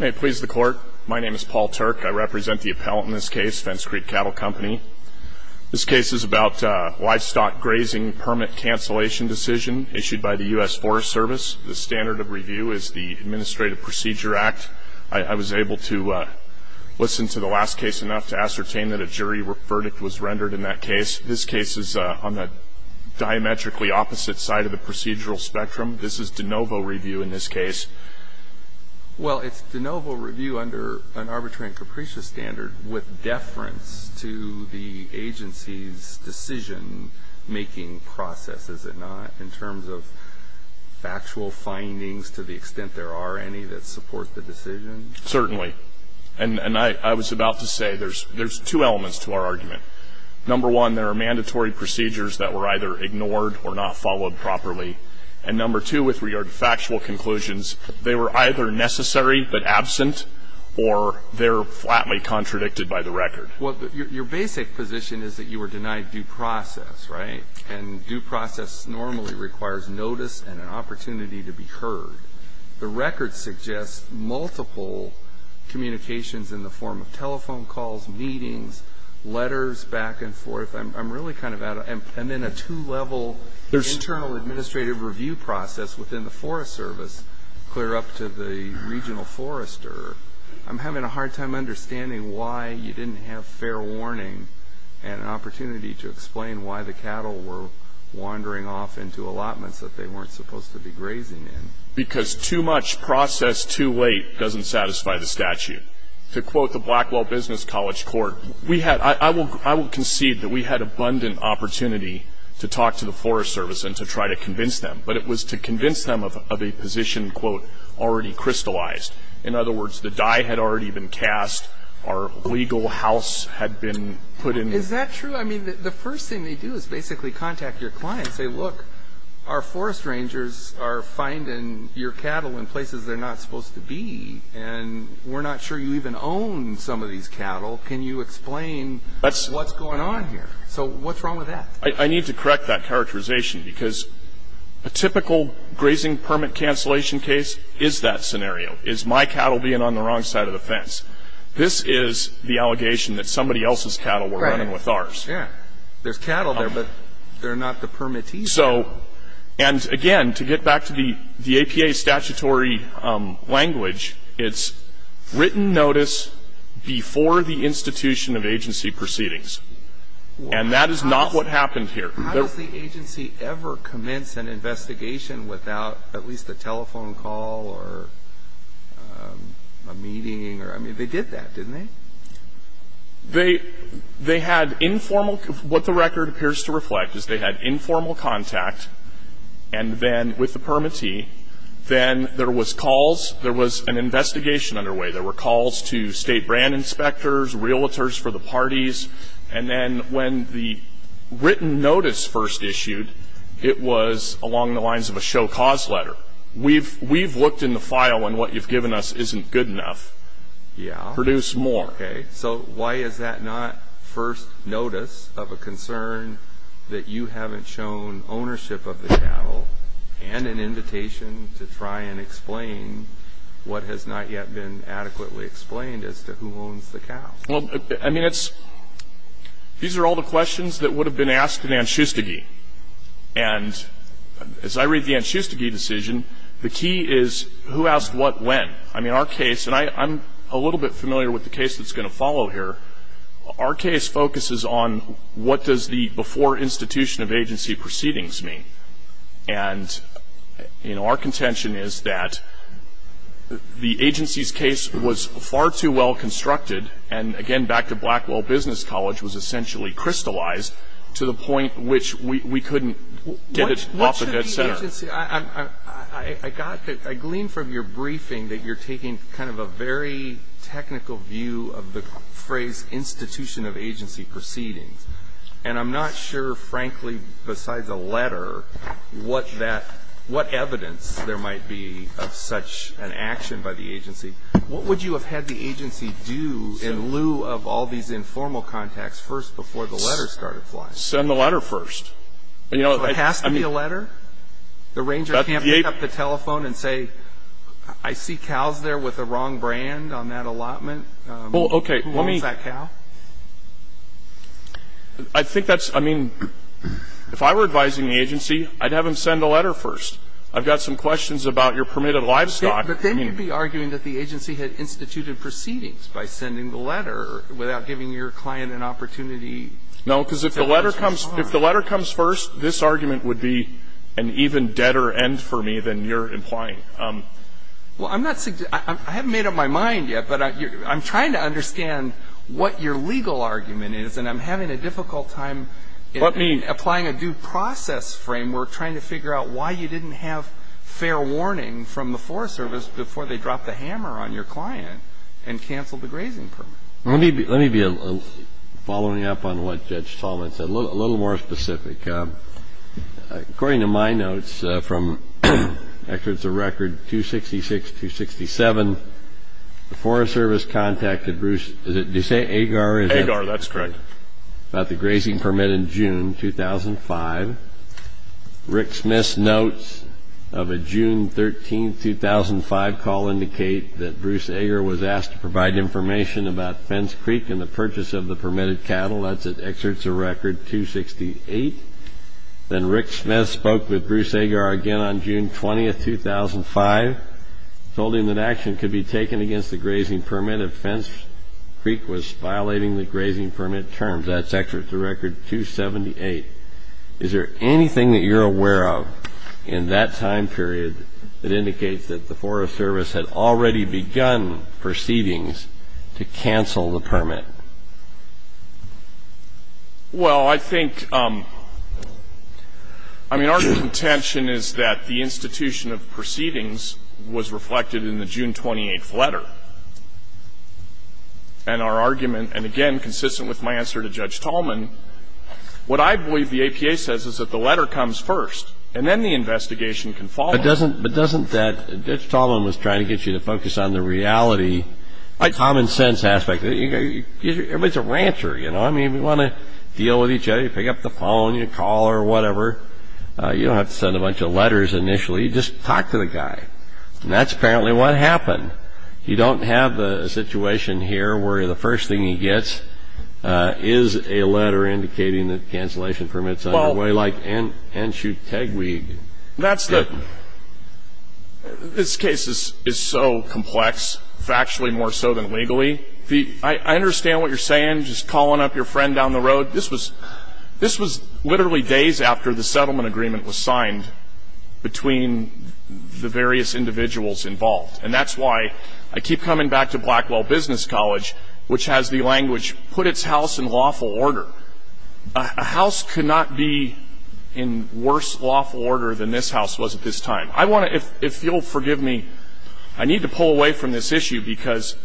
May it please the court, my name is Paul Turk. I represent the appellant in this case, Fence Creek Cattle Company. This case is about a livestock grazing permit cancellation decision issued by the US Forest Service. The standard of review is the Administrative Procedure Act. I was able to listen to the last case enough to ascertain that a jury verdict was rendered in that case. This case is on the diametrically opposite side of the procedural spectrum. This is de novo review in this case. Well, it's de novo review under an arbitrary and capricious standard with deference to the agency's decision-making process, is it not, in terms of factual findings to the extent there are any that support the decision? Certainly. And I was about to say there's two elements to our argument. Number one, there are mandatory procedures that were either ignored or not followed properly. And number two, with regard to factual conclusions, they were either necessary but absent, or they're flatly contradicted by the record. Well, your basic position is that you were denied due process, right? And due process normally requires notice and an opportunity to be heard. The record suggests multiple communications in the form of telephone calls, meetings, letters, back and forth. I'm really kind of out of it. I'm in a two-level internal administrative review process within the Forest Service clear up to the regional forester. I'm having a hard time understanding why you didn't have fair warning and an opportunity to explain why the cattle were wandering off into allotments that they weren't supposed to be grazing in. Because too much process too late doesn't satisfy the statute. To quote the Blackwell Business College Court, I will concede that we had abundant opportunity to talk to the Forest Service and to try to convince them. But it was to convince them of a position, quote, already crystallized. In other words, the die had already been cast. Our legal house had been put in. Is that true? I mean, the first thing they do is basically contact your client and say, look, our forest rangers are finding your cattle in places they're not supposed to be. And we're not sure you even own some of these cattle. Can you explain what's going on here? So what's wrong with that? I need to correct that characterization. Because a typical grazing permit cancellation case is that scenario. Is my cattle being on the wrong side of the fence? This is the allegation that somebody else's cattle were running with ours. Yeah. There's cattle there, but they're not the permittees. And again, to get back to the APA statutory language, it's written notice before the institution of agency proceedings. And that is not what happened here. How does the agency ever commence an investigation without at least a telephone call or a meeting? I mean, they did that, didn't they? They had informal. What the record appears to reflect is they had informal contact. And then with the permittee, then there was calls. There was an investigation underway. There were calls to state brand inspectors, realtors for the parties. And then when the written notice first issued, it was along the lines of a show cause letter. We've looked in the file, and what you've given us isn't good enough. Produce more. So why is that not first notice of a concern that you haven't shown ownership of the cattle and an invitation to try and explain what has not yet been adequately explained as to who owns the cow? Well, I mean, it's these are all the questions that would have been asked in Anschustigee. And as I read the Anschustigee decision, the key is who asked what when. I mean, our case, and I'm a little bit familiar with the case that's going to follow here, our case focuses on what does the before institution of agency proceedings mean. And our contention is that the agency's case was far too well constructed. And again, back to Blackwell Business College, was essentially crystallized to the point which we couldn't get it off of its center. I got that. I gleaned from your briefing that you're taking kind of a very technical view of the phrase institution of agency proceedings. And I'm not sure, frankly, besides a letter, what evidence there might be of such an action by the agency. What would you have had the agency do in lieu of all these informal contacts first before the letters started flying? Send the letter first. You know, it has to be a letter? The ranger can't pick up the telephone and say, I see cows there with the wrong brand on that allotment. Well, OK. Who owns that cow? I think that's, I mean, if I were advising the agency, I'd have them send a letter first. I've got some questions about your permitted livestock. But then you'd be arguing that the agency had instituted proceedings by sending the letter without giving your client an opportunity. No, because if the letter comes first, this argument would be an even deader end for me than you're implying. Well, I haven't made up my mind yet, but I'm trying to understand what your legal argument is. And I'm having a difficult time applying a due process framework trying to figure out why you didn't have fair warning from the Forest Service before they dropped the hammer on your client and canceled the grazing permit. Let me be following up on what Judge Solomon said. A little more specific, according to my notes from records of record 266, 267, the Forest Service contacted Bruce, is it, did you say Agar? Agar, that's correct. About the grazing permit in June 2005. Rick Smith's notes of a June 13, 2005, call indicate that Bruce Agar was asked to provide information about Fence Creek and the purchase of the permitted cattle. That's at excerpts of record 268. Then Rick Smith spoke with Bruce Agar again on June 20, 2005, told him that action could be taken against the grazing permit if Fence Creek was violating the grazing permit terms. That's excerpts of record 278. Is there anything that you're aware of in that time period that indicates that the Forest Service had already begun proceedings to cancel the permit? Well, I think, I mean, our contention is that the institution of proceedings was reflected in the June 28 letter. And our argument, and again, consistent with my answer to Judge Tallman, what I believe the APA says is that the letter comes first, and then the investigation can follow. But doesn't that, Judge Tallman was trying to get you to focus on the reality, common sense aspect. Everybody's a rancher, you know? We want to deal with each other. You pick up the phone, you call or whatever. You don't have to send a bunch of letters initially. You just talk to the guy. And that's apparently what happened. You don't have a situation here where the first thing he gets is a letter indicating that cancellation permits are underway, like Anshu Tegwig. That's the, this case is so complex, factually more so than legally. I understand what you're saying, just calling up your friend down the road. This was literally days after the settlement agreement was signed between the various individuals involved. And that's why I keep coming back to Blackwell Business College, which has the language, put its house in lawful order. A house could not be in worse lawful order than this house was at this time. I want to, if you'll forgive me, I need to pull away from this issue because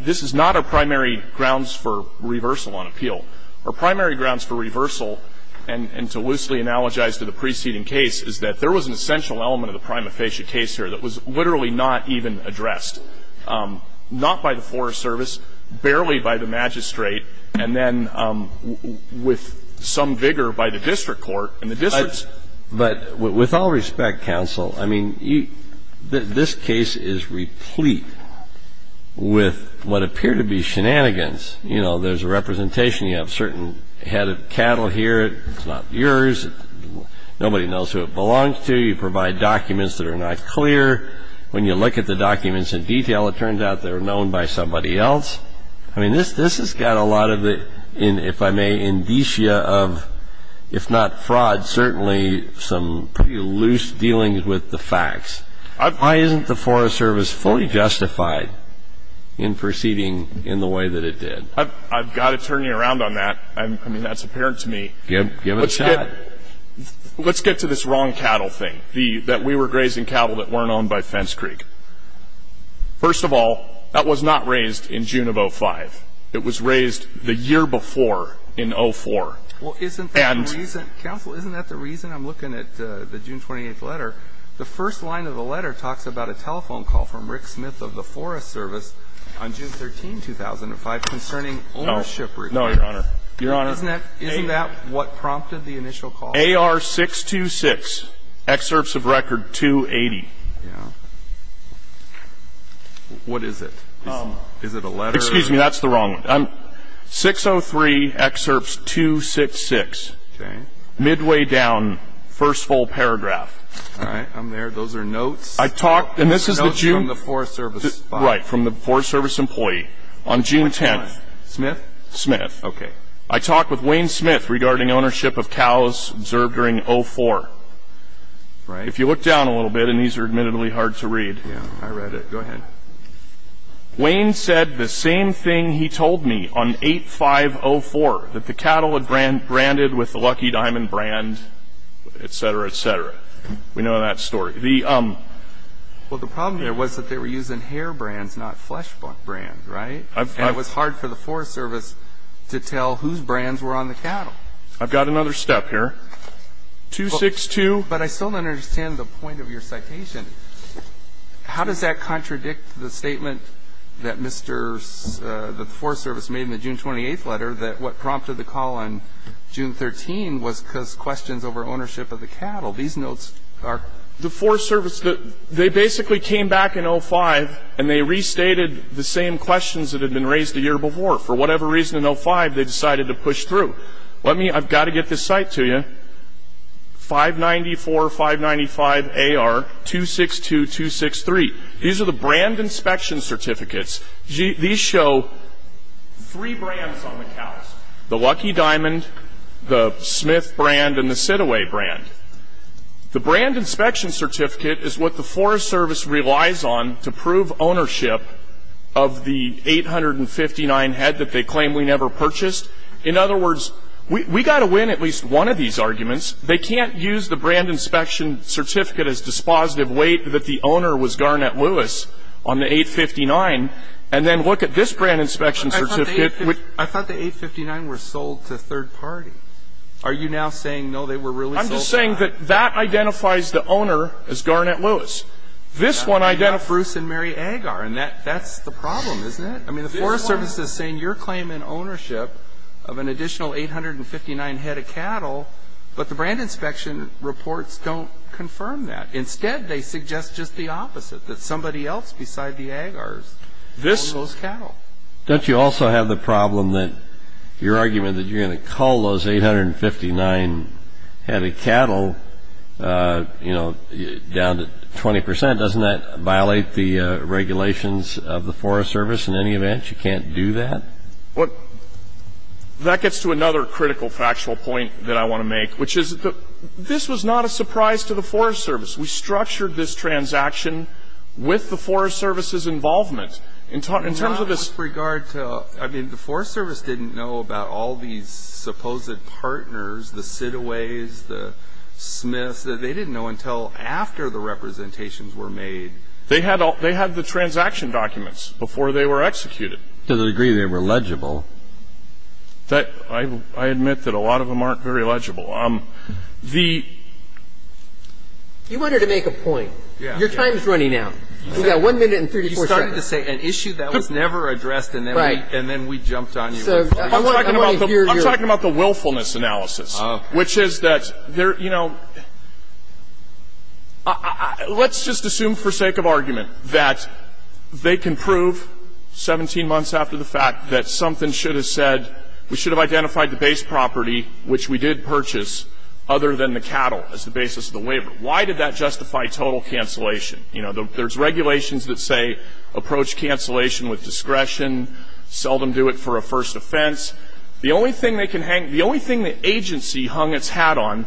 this is not our primary grounds for reversal on appeal. Our primary grounds for reversal, and to loosely analogize to the preceding case, is that there was an essential element of the prima facie case here that was literally not even addressed, not by the Forest Service, barely by the magistrate, and then with some vigor by the district court. And the district's- But with all respect, counsel, I mean, this case is replete with what appear to be shenanigans. You know, there's a representation, you have a certain head of cattle here, it's not yours, nobody knows who it belongs to, you provide documents that are not clear. When you look at the documents in detail, it turns out they were known by somebody else. I mean, this has got a lot of the, if I may, indicia of, if not fraud, certainly some pretty loose dealings with the facts. Why isn't the Forest Service fully justified in proceeding in the way that it did? I've got to turn you around on that. I mean, that's apparent to me. Give it a shot. Let's get to this wrong cattle thing, that we were grazing cattle that weren't owned by Fence Creek. First of all, that was not raised in June of 05. It was raised the year before, in 04. Well, isn't that the reason, counsel, isn't that the reason I'm looking at the June 28th letter? The first line of the letter talks about a telephone call from Rick Smith of the Forest Service on June 13, 2005 concerning ownership requests. No, Your Honor. Your Honor, isn't that what prompted the initial call? AR 626, excerpts of record 280. What is it? Is it a letter? Excuse me, that's the wrong one. 603, excerpts 266, midway down, first full paragraph. All right, I'm there. Those are notes. I talked, and this is the June. Notes from the Forest Service. Right, from the Forest Service employee on June 10. Smith? Smith. OK. I talked with Wayne Smith regarding ownership of cows observed during 04. If you look down a little bit, and these are admittedly hard to read. Yeah, I read it. Go ahead. Wayne said the same thing he told me on 8504, that the cattle had branded with the Lucky Diamond brand, et cetera, et cetera. We know that story. Well, the problem there was that they were using hair brands, not flesh brand, right? And it was hard for the Forest Service to tell whose brands were on the cattle. I've got another step here. 262. But I still don't understand the point of your citation. How does that contradict the statement that Mr. ---- the Forest Service made in the June 28th letter that what prompted the call on June 13 was because questions over ownership of the cattle? These notes are ---- The Forest Service, they basically came back in 05, and they restated the same questions that had been raised a year before. For whatever reason in 05, they decided to push through. I've got to get this cite to you. 594, 595 AR, 262, 263. These are the brand inspection certificates. These show three brands on the cows, the Lucky Diamond, the Smith brand, and the Sidaway brand. The brand inspection certificate is what the Forest Service relies on to prove ownership of the 859 head that they claim we never purchased. In other words, we've got to win at least one of these arguments. They can't use the brand inspection certificate as dispositive weight that the owner was Garnett Lewis on the 859 and then look at this brand inspection certificate. I thought the 859 were sold to third party. Are you now saying, no, they were really sold to third party? I'm just saying that that identifies the owner as Garnett Lewis. This one identifies. Bruce and Mary Agar, and that's the problem, isn't it? I mean, the Forest Service is saying your claim in ownership of an additional 859 head of cattle, but the brand inspection reports don't confirm that. Instead, they suggest just the opposite, that somebody else beside the Agars owns those cattle. Don't you also have the problem that your argument that you're going to call those 20%, doesn't that violate the regulations of the Forest Service in any event? You can't do that? That gets to another critical factual point that I want to make, which is that this was not a surprise to the Forest Service. We structured this transaction with the Forest Service's involvement. In terms of this- With regard to, I mean, the Forest Service didn't know about all these supposed partners, the Sidaways, the Smiths, that they didn't know until after the representations were made. They had the transaction documents before they were executed. To the degree they were legible. I admit that a lot of them aren't very legible. The- You wanted to make a point. Your time is running out. We've got one minute and 34 seconds. You started to say an issue that was never addressed, and then we jumped on you. I'm talking about the willfulness analysis, which is that there, you know, let's just assume for sake of argument that they can prove 17 months after the fact that something should have said, we should have identified the base property, which we did purchase, other than the cattle as the basis of the waiver. Why did that justify total cancellation? You know, there's regulations that say, approach cancellation with discretion. Seldom do it for a first offense. The only thing they can hang, the only thing the agency hung its hat on,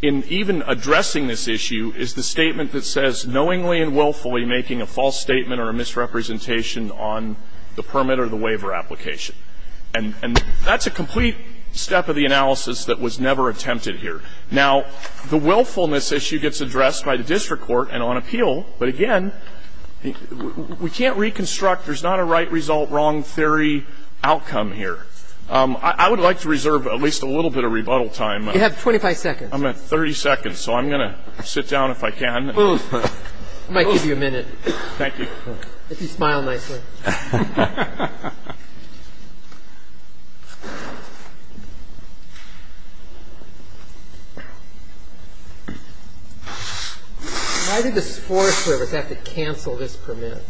in even addressing this issue, is the statement that says, knowingly and willfully making a false statement or a misrepresentation on the permit or the waiver application. And that's a complete step of the analysis that was never attempted here. Now, the willfulness issue gets addressed by the district court and on appeal. But again, we can't reconstruct, there's not a right result, wrong theory outcome here. I would like to reserve at least a little bit of rebuttal time. You have 25 seconds. I'm at 30 seconds, so I'm going to sit down if I can. Move. I might give you a minute. Thank you. If you smile nicely. Why did the Forest Service have to cancel this permit?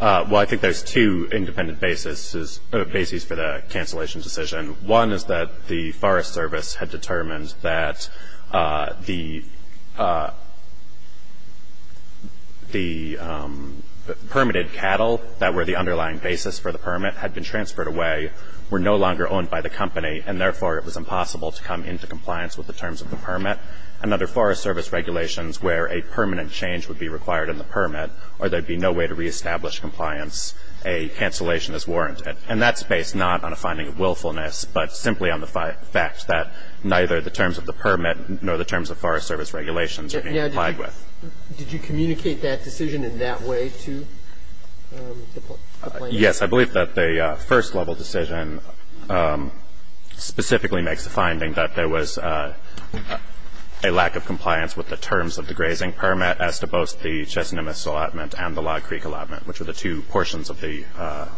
Well, I think there's two independent basis for the cancellation decision. One is that the Forest Service had determined that the permitted cattle that were the underlying basis for the permit had been transferred away, were no longer owned by the company, and therefore it was impossible to come into compliance with the terms of the permit. And under Forest Service regulations, where a permanent change would be required in the permit, or there'd be no way to reestablish compliance, a cancellation is warranted. And that's based not on a finding of willfulness, but simply on the fact that neither the terms of the permit nor the terms of Forest Service regulations are being applied with. Did you communicate that decision in that way to the plaintiff? Yes. I believe that the first level decision specifically makes the finding that there was a lack of compliance with the terms of the grazing permit as to both the Chesina Nunez allotment and the Log Creek allotment, which are the two portions of the-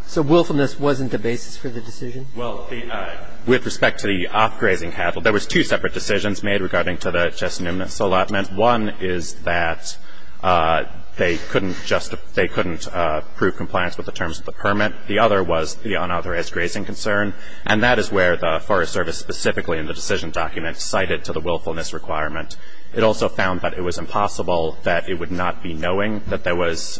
So willfulness wasn't the basis for the decision? Well, with respect to the off-grazing cattle, there was two separate decisions made regarding to the Chesina Nunez allotment. One is that they couldn't prove compliance with the terms of the permit. The other was the unauthorized grazing concern. And that is where the Forest Service specifically in the decision document cited to the willfulness requirement. It also found that it was impossible that it would not be knowing that there was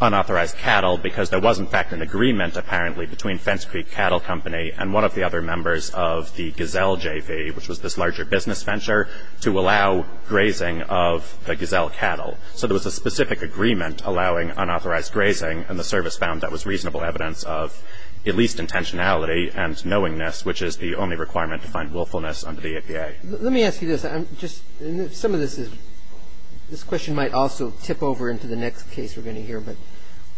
unauthorized cattle because there was, in fact, an agreement, apparently, between Fence Creek Cattle Company and one of the other members of the Gazelle JV, which was this larger business venture, to allow grazing of the Gazelle cattle. So there was a specific agreement allowing unauthorized grazing, and the Service found that was reasonable evidence of at least intentionality and Let me ask you this. I'm just – some of this is – this question might also tip over into the next case we're going to hear. But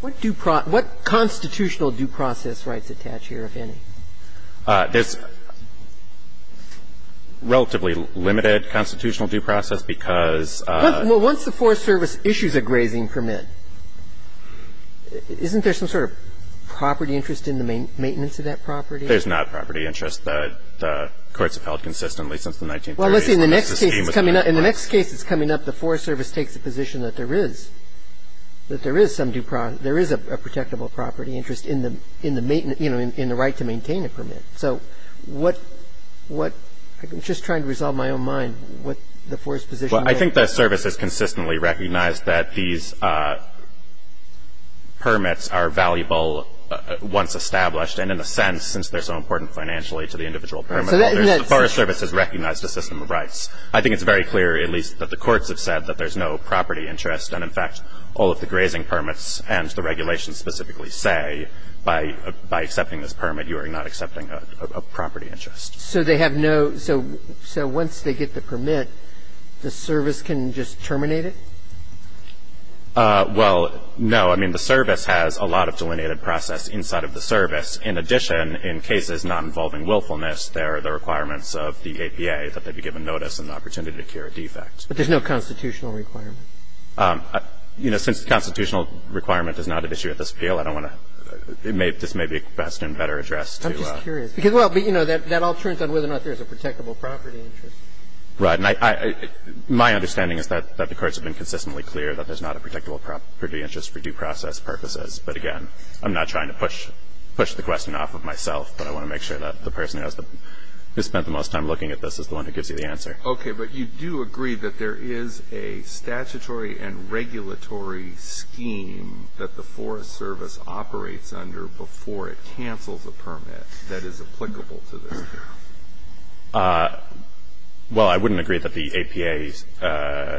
what constitutional due process rights attach here, if any? There's relatively limited constitutional due process because- Well, once the Forest Service issues a grazing permit, isn't there some sort of property interest in the maintenance of that property? There's not a property interest. The courts have held consistently since the 1930s that the scheme was unauthorized. In the next case that's coming up, the Forest Service takes the position that there is – that there is some due process – there is a protectable property interest in the maintenance – in the right to maintain a permit. So what – I'm just trying to resolve my own mind what the Forest position is. Well, I think the Service has consistently recognized that these permits are valuable once established. And in a sense, since they're so important financially to the individual permit holder, the Forest Service has recognized a system of rights. I think it's very clear, at least, that the courts have said that there's no property interest. And in fact, all of the grazing permits and the regulations specifically say, by accepting this permit, you are not accepting a property interest. So they have no – so once they get the permit, the Service can just terminate it? Well, no. I mean, the Service has a lot of delineated process inside of the Service. In addition, in cases not involving willfulness, there are the requirements of the APA that they be given notice and the opportunity to cure a defect. But there's no constitutional requirement? You know, since the constitutional requirement is not at issue at this appeal, I don't want to – this may be best and better addressed to the – I'm just curious. Because, well, but, you know, that all turns on whether or not there's a protectable property interest. Right. And I – my understanding is that the courts have been consistently clear that there's not a protectable property interest for due process purposes. But again, I'm not trying to push the question off of myself, but I want to make sure that the person who has the – who spent the most time looking at this is the one who gives you the answer. Okay. But you do agree that there is a statutory and regulatory scheme that the Forest Service operates under before it cancels a permit that is applicable to this case? Well, I wouldn't agree that the APA's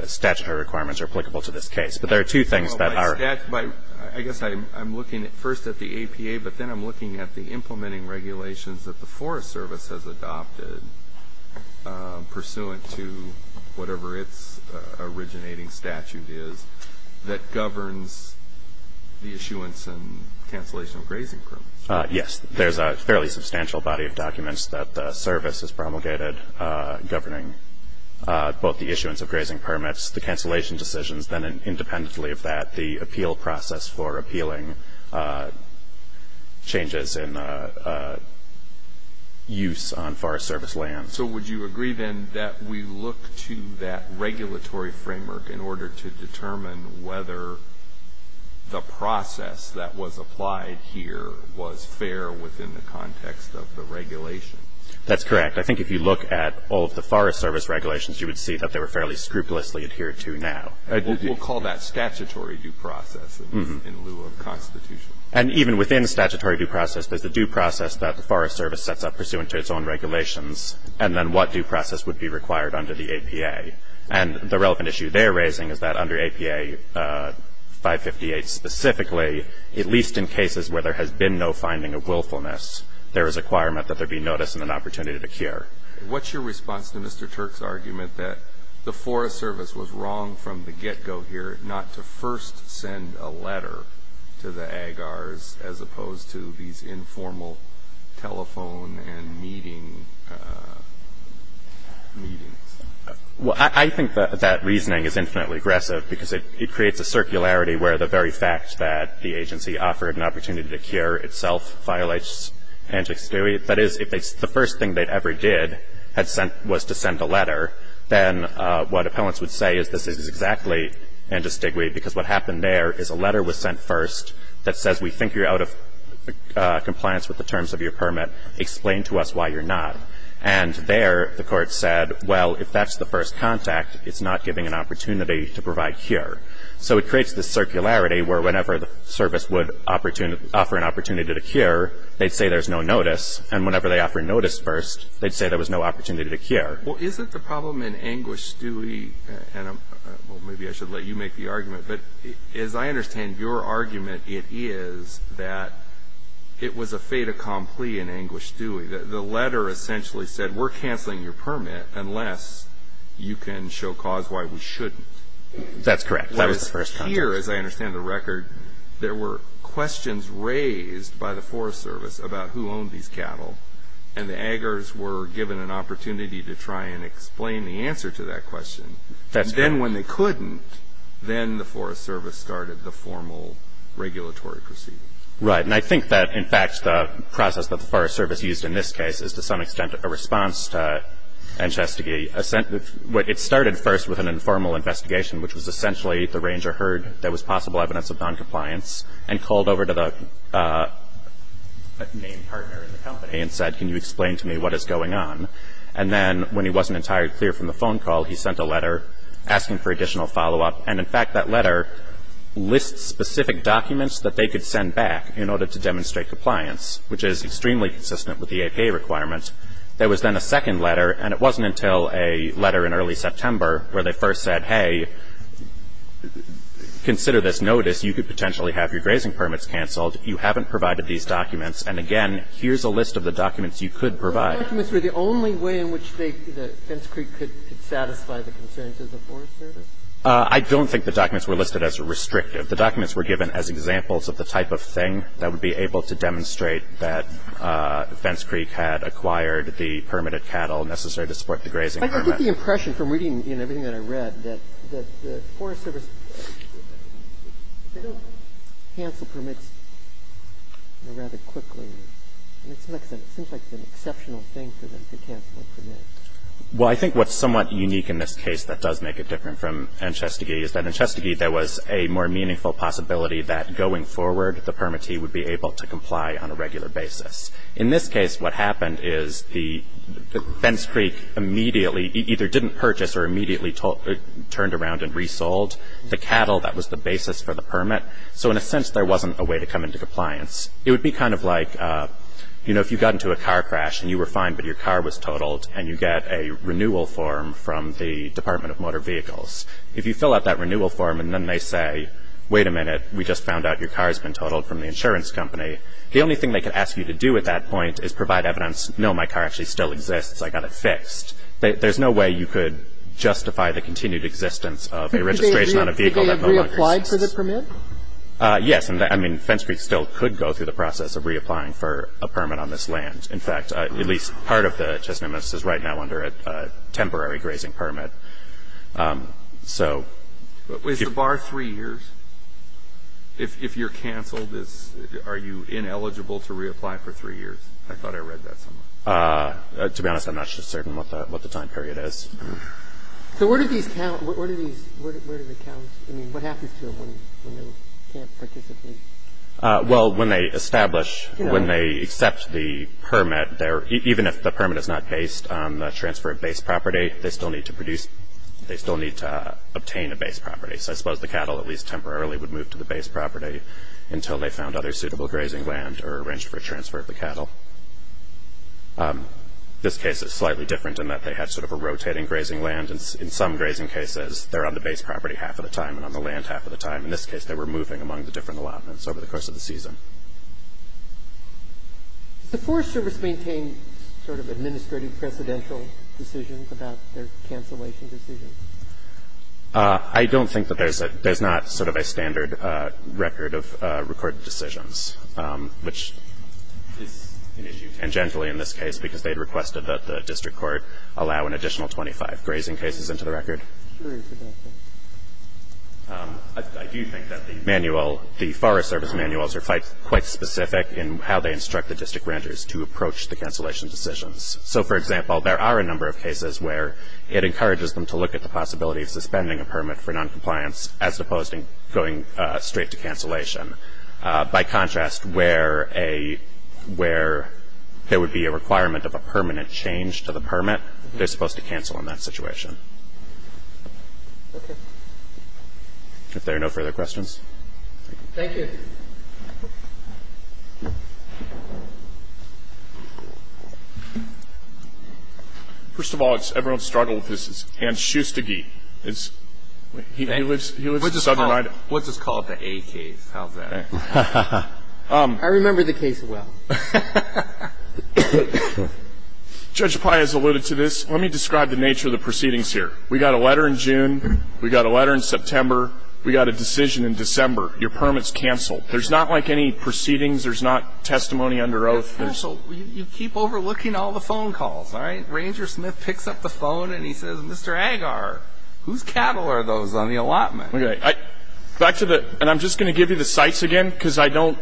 statutory requirements are applicable to this case. But there are two things that are. Well, by – I guess I'm looking first at the APA, but then I'm looking at the implementing regulations that the Forest Service has adopted pursuant to whatever its originating statute is that governs the issuance and cancellation of grazing permits. Yes. There's a fairly substantial body of documents that the service has promulgated governing both the issuance of grazing permits, the cancellation decisions, then independently of that, the appeal process for appealing changes in use on Forest Service land. So would you agree then that we look to that regulatory framework in order to determine whether the process that was applied here was fair within the context of the regulation? That's correct. I think if you look at all of the Forest Service regulations, you would see that they were fairly scrupulously adhered to now. We'll call that statutory due process in lieu of constitutional. And even within statutory due process, there's the due process that the Forest Service sets up pursuant to its own regulations, and then what due process would be required under the APA. And the relevant issue they're raising is that under APA 558 specifically, at least in cases where there has been no finding of willfulness, there is a requirement that there be notice and an opportunity to cure. What's your response to Mr. Turk's argument that the Forest Service was wrong from the get-go here not to first send a letter to the AGARs as opposed to these informal telephone and meeting meetings? Well, I think that that reasoning is infinitely aggressive because it creates a circularity where the very fact that the agency offered an opportunity to cure itself violates antistiguity. That is, if the first thing they ever did was to send a letter, then what appellants would say is this is exactly antistiguity because what happened there is a letter was sent first that says, we think you're out of compliance with the terms of your permit. Explain to us why you're not. And there, the court said, well, if that's the first contact, it's not giving an opportunity to provide cure. So it creates this circularity where whenever the service would offer an opportunity to cure, they'd say there's no notice, and whenever they offer notice first, they'd say there was no opportunity to cure. Well, isn't the problem in Anguished Stewie, and maybe I should let you make the argument, but as I understand your argument, it is that it was a fait accompli in Anguished Stewie, that the letter essentially said, we're canceling your permit unless you can show cause why we shouldn't. That's correct. That was the first contact. There were questions raised by the Forest Service about who owned these cattle, and the aggers were given an opportunity to try and explain the answer to that question. That's correct. And then when they couldn't, then the Forest Service started the formal regulatory proceedings. Right, and I think that, in fact, the process that the Forest Service used in this case is, to some extent, a response to antistiguity. It started first with an informal investigation, which was essentially the ranger heard there was possible evidence of noncompliance, and called over to the main partner in the company and said, can you explain to me what is going on? And then when he wasn't entirely clear from the phone call, he sent a letter asking for additional follow-up. And in fact, that letter lists specific documents that they could send back in order to demonstrate compliance, which is extremely consistent with the APA requirement. There was then a second letter, and it wasn't until a letter in early September, where they first said, hey, consider this notice. You could potentially have your grazing permits canceled. You haven't provided these documents, and again, here's a list of the documents you could provide. But the documents were the only way in which they, the Fence Creek could satisfy the concerns of the Forest Service? I don't think the documents were listed as restrictive. The documents were given as examples of the type of thing that would be able to demonstrate that Fence Creek had acquired the permitted cattle necessary to support the grazing permit. I get the impression from reading everything that I read that the Forest Service they don't cancel permits rather quickly. It seems like it's an exceptional thing for them to cancel a permit. Well, I think what's somewhat unique in this case that does make it different from Enchestegee is that in Enchestegee there was a more meaningful possibility that going forward the permittee would be able to comply on a regular basis. In this case what happened is the Fence Creek immediately either didn't purchase or immediately turned around and resold the cattle that was the basis for the permit. So in a sense there wasn't a way to come into compliance. It would be kind of like, you know, if you got into a car crash and you were fine but your car was totaled and you get a renewal form from the Department of Motor Vehicles. If you fill out that renewal form and then they say, wait a minute, we just found out your car's been totaled from the insurance company, the only thing they could ask you to do at that point is provide evidence, no, my car actually still exists, I got it fixed. There's no way you could justify the continued existence of a registration on a vehicle that no longer exists. Did they reapply for the permit? Yes. And, I mean, Fence Creek still could go through the process of reapplying for a permit on this land. In fact, at least part of the Chesna Miss is right now under a temporary grazing permit. So. Is the bar three years? If you're canceled, are you ineligible to reapply for three years? I thought I read that somewhere. To be honest, I'm not certain what the time period is. So where do these count? Where do these, where do they count? I mean, what happens to them when they can't participate? Well, when they establish, when they accept the permit, even if the permit is not based on the transfer of base property, they still need to produce, they still need to obtain a base property. So I suppose the cattle, at least temporarily, would move to the base property until they found other suitable grazing land or arranged for a transfer of the cattle. This case is slightly different in that they had sort of a rotating grazing land. And in some grazing cases, they're on the base property half of the time and on the land half of the time. In this case, they were moving among the different allotments over the course of the season. Does the Forest Service maintain sort of administrative precedential decisions about their cancellation decisions? I don't think that there's a, there's not sort of a standard record of recorded decisions, which is an issue tangentially in this case, because they had requested that the district court allow an additional 25 grazing cases into the record. I do think that the manual, the Forest Service manuals are quite, quite specific in how they instruct the district renters to approach the cancellation decisions. So for example, there are a number of cases where it encourages them to look at the possibility of suspending a permit for non-compliance, as opposed to going straight to cancellation. By contrast, where a, where there would be a requirement of a permanent change to the permit, they're supposed to cancel in that situation. If there are no further questions. Thank you. First of all, it's everyone's struggle with this, and Schustigy is, he lives, he lives in southern Idaho. Let's just call it the A case. How's that? I remember the case well. Judge Pai has alluded to this. Let me describe the nature of the proceedings here. We got a letter in June. We got a letter in September. We got a decision in December. Your permit's canceled. There's not like any proceedings. There's not testimony under oath. It's canceled. You keep overlooking all the phone calls, all right? Ranger Smith picks up the phone and he says, Mr. Agar, whose cattle are those on the allotment? Okay, I, back to the, and I'm just going to give you the sites again because I don't,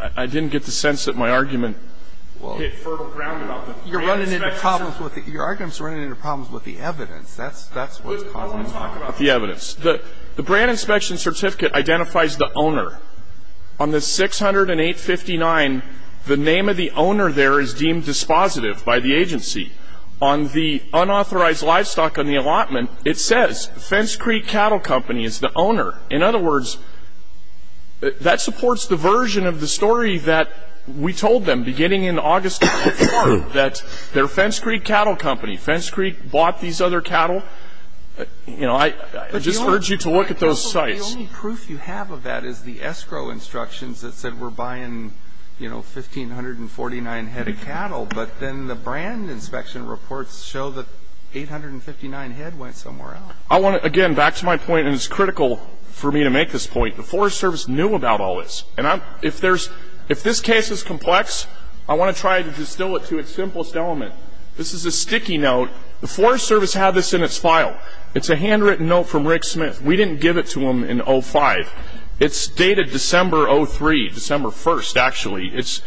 I didn't get the sense that my argument hit fertile ground enough. You're running into problems with it. Your argument's running into problems with the evidence. That's, that's what's causing the problem. The evidence. The brand inspection certificate identifies the owner. On the 608-59, the name of the owner there is deemed dispositive by the agency. On the unauthorized livestock on the allotment, it says, Fence Creek Cattle Company is the owner. In other words, that supports the version of the story that we told them beginning in August of last year that they're Fence Creek Cattle Company. Fence Creek bought these other cattle. You know, I, I just urge you to look at those sites. The only proof you have of that is the escrow instructions that said we're buying, you know, 1,549 head of cattle. But then the brand inspection reports show that 859 head went somewhere else. I want to, again, back to my point, and it's critical for me to make this point. The Forest Service knew about all this. And I'm, if there's, if this case is complex, I want to try to distill it to its simplest element. This is a sticky note. The Forest Service had this in its file. It's a handwritten note from Rick Smith. We didn't give it to him in 05. It's dated December 03, December 1st, actually. It's,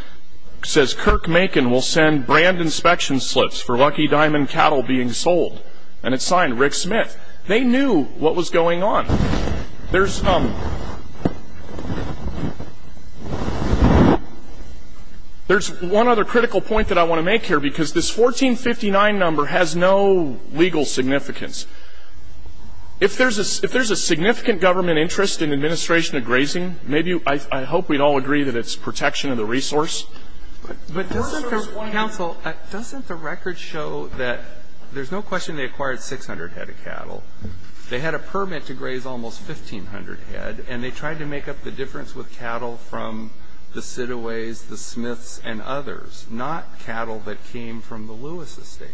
says Kirk Macon will send brand inspection slips for Lucky Diamond Cattle being sold. And it's signed Rick Smith. They knew what was going on. There's, there's one other critical point that I want to make here, because this 1,459 number has no legal significance. If there's a, if there's a significant government interest in administration of grazing, maybe, I, I hope we'd all agree that it's protection of the resource. But doesn't the, counsel, doesn't the record show that there's no question they acquired 600 head of cattle. They had a permit to graze almost 1,500 head, and they tried to make up the difference with cattle from the Sidaways, the Smiths, and others. Not cattle that came from the Lewis Estate.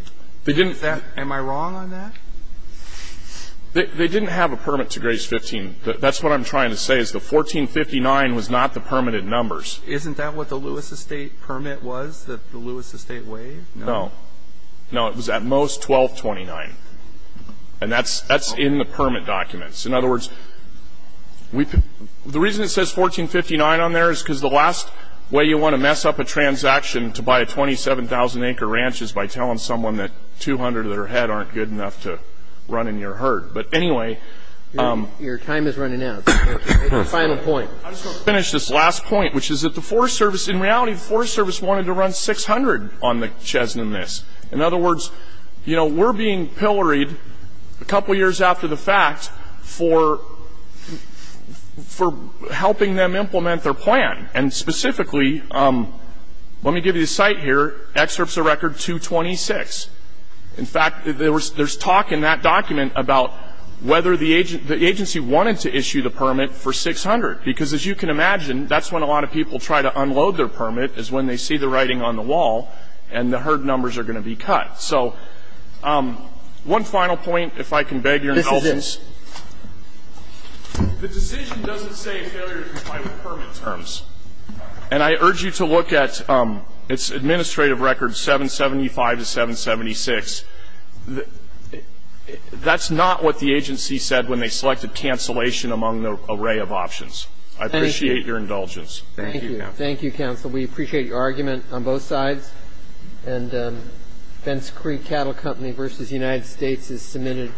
They didn't. Am I wrong on that? They, they didn't have a permit to graze 15. That, that's what I'm trying to say is the 1,459 was not the permitted numbers. Isn't that what the Lewis Estate permit was? That the Lewis Estate waived? No. No, it was at most 1,229, and that's, that's in the permit documents. In other words, we, the reason it says 1,459 on there is because the last way you want to mess up a transaction to buy a 27,000 acre ranch is by telling someone that 200 of their head aren't good enough to run in your herd. But anyway. Your time is running out. Your final point. I just want to finish this last point, which is that the Forest Service, in reality, the Forest Service wanted to run 600 on the Chesna Miss. In other words, you know, we're being pilloried a couple of years after the fact for, for helping them implement their plan. And specifically, let me give you a site here. Excerpts of record 226. In fact, there was, there's talk in that document about whether the agent, the agency wanted to issue the permit for 600. Because as you can imagine, that's when a lot of people try to unload their permit is when they see the writing on the wall, and the herd numbers are going to be cut. So, one final point, if I can beg your indulgence. The decision doesn't say failure to comply with permit terms. And I urge you to look at it's administrative record 775 to 776. That's not what the agency said when they selected cancellation among the array of options. I appreciate your indulgence. Thank you. Thank you, counsel. We appreciate your argument on both sides. And Fence Creek Cattle Company versus United States is submitted.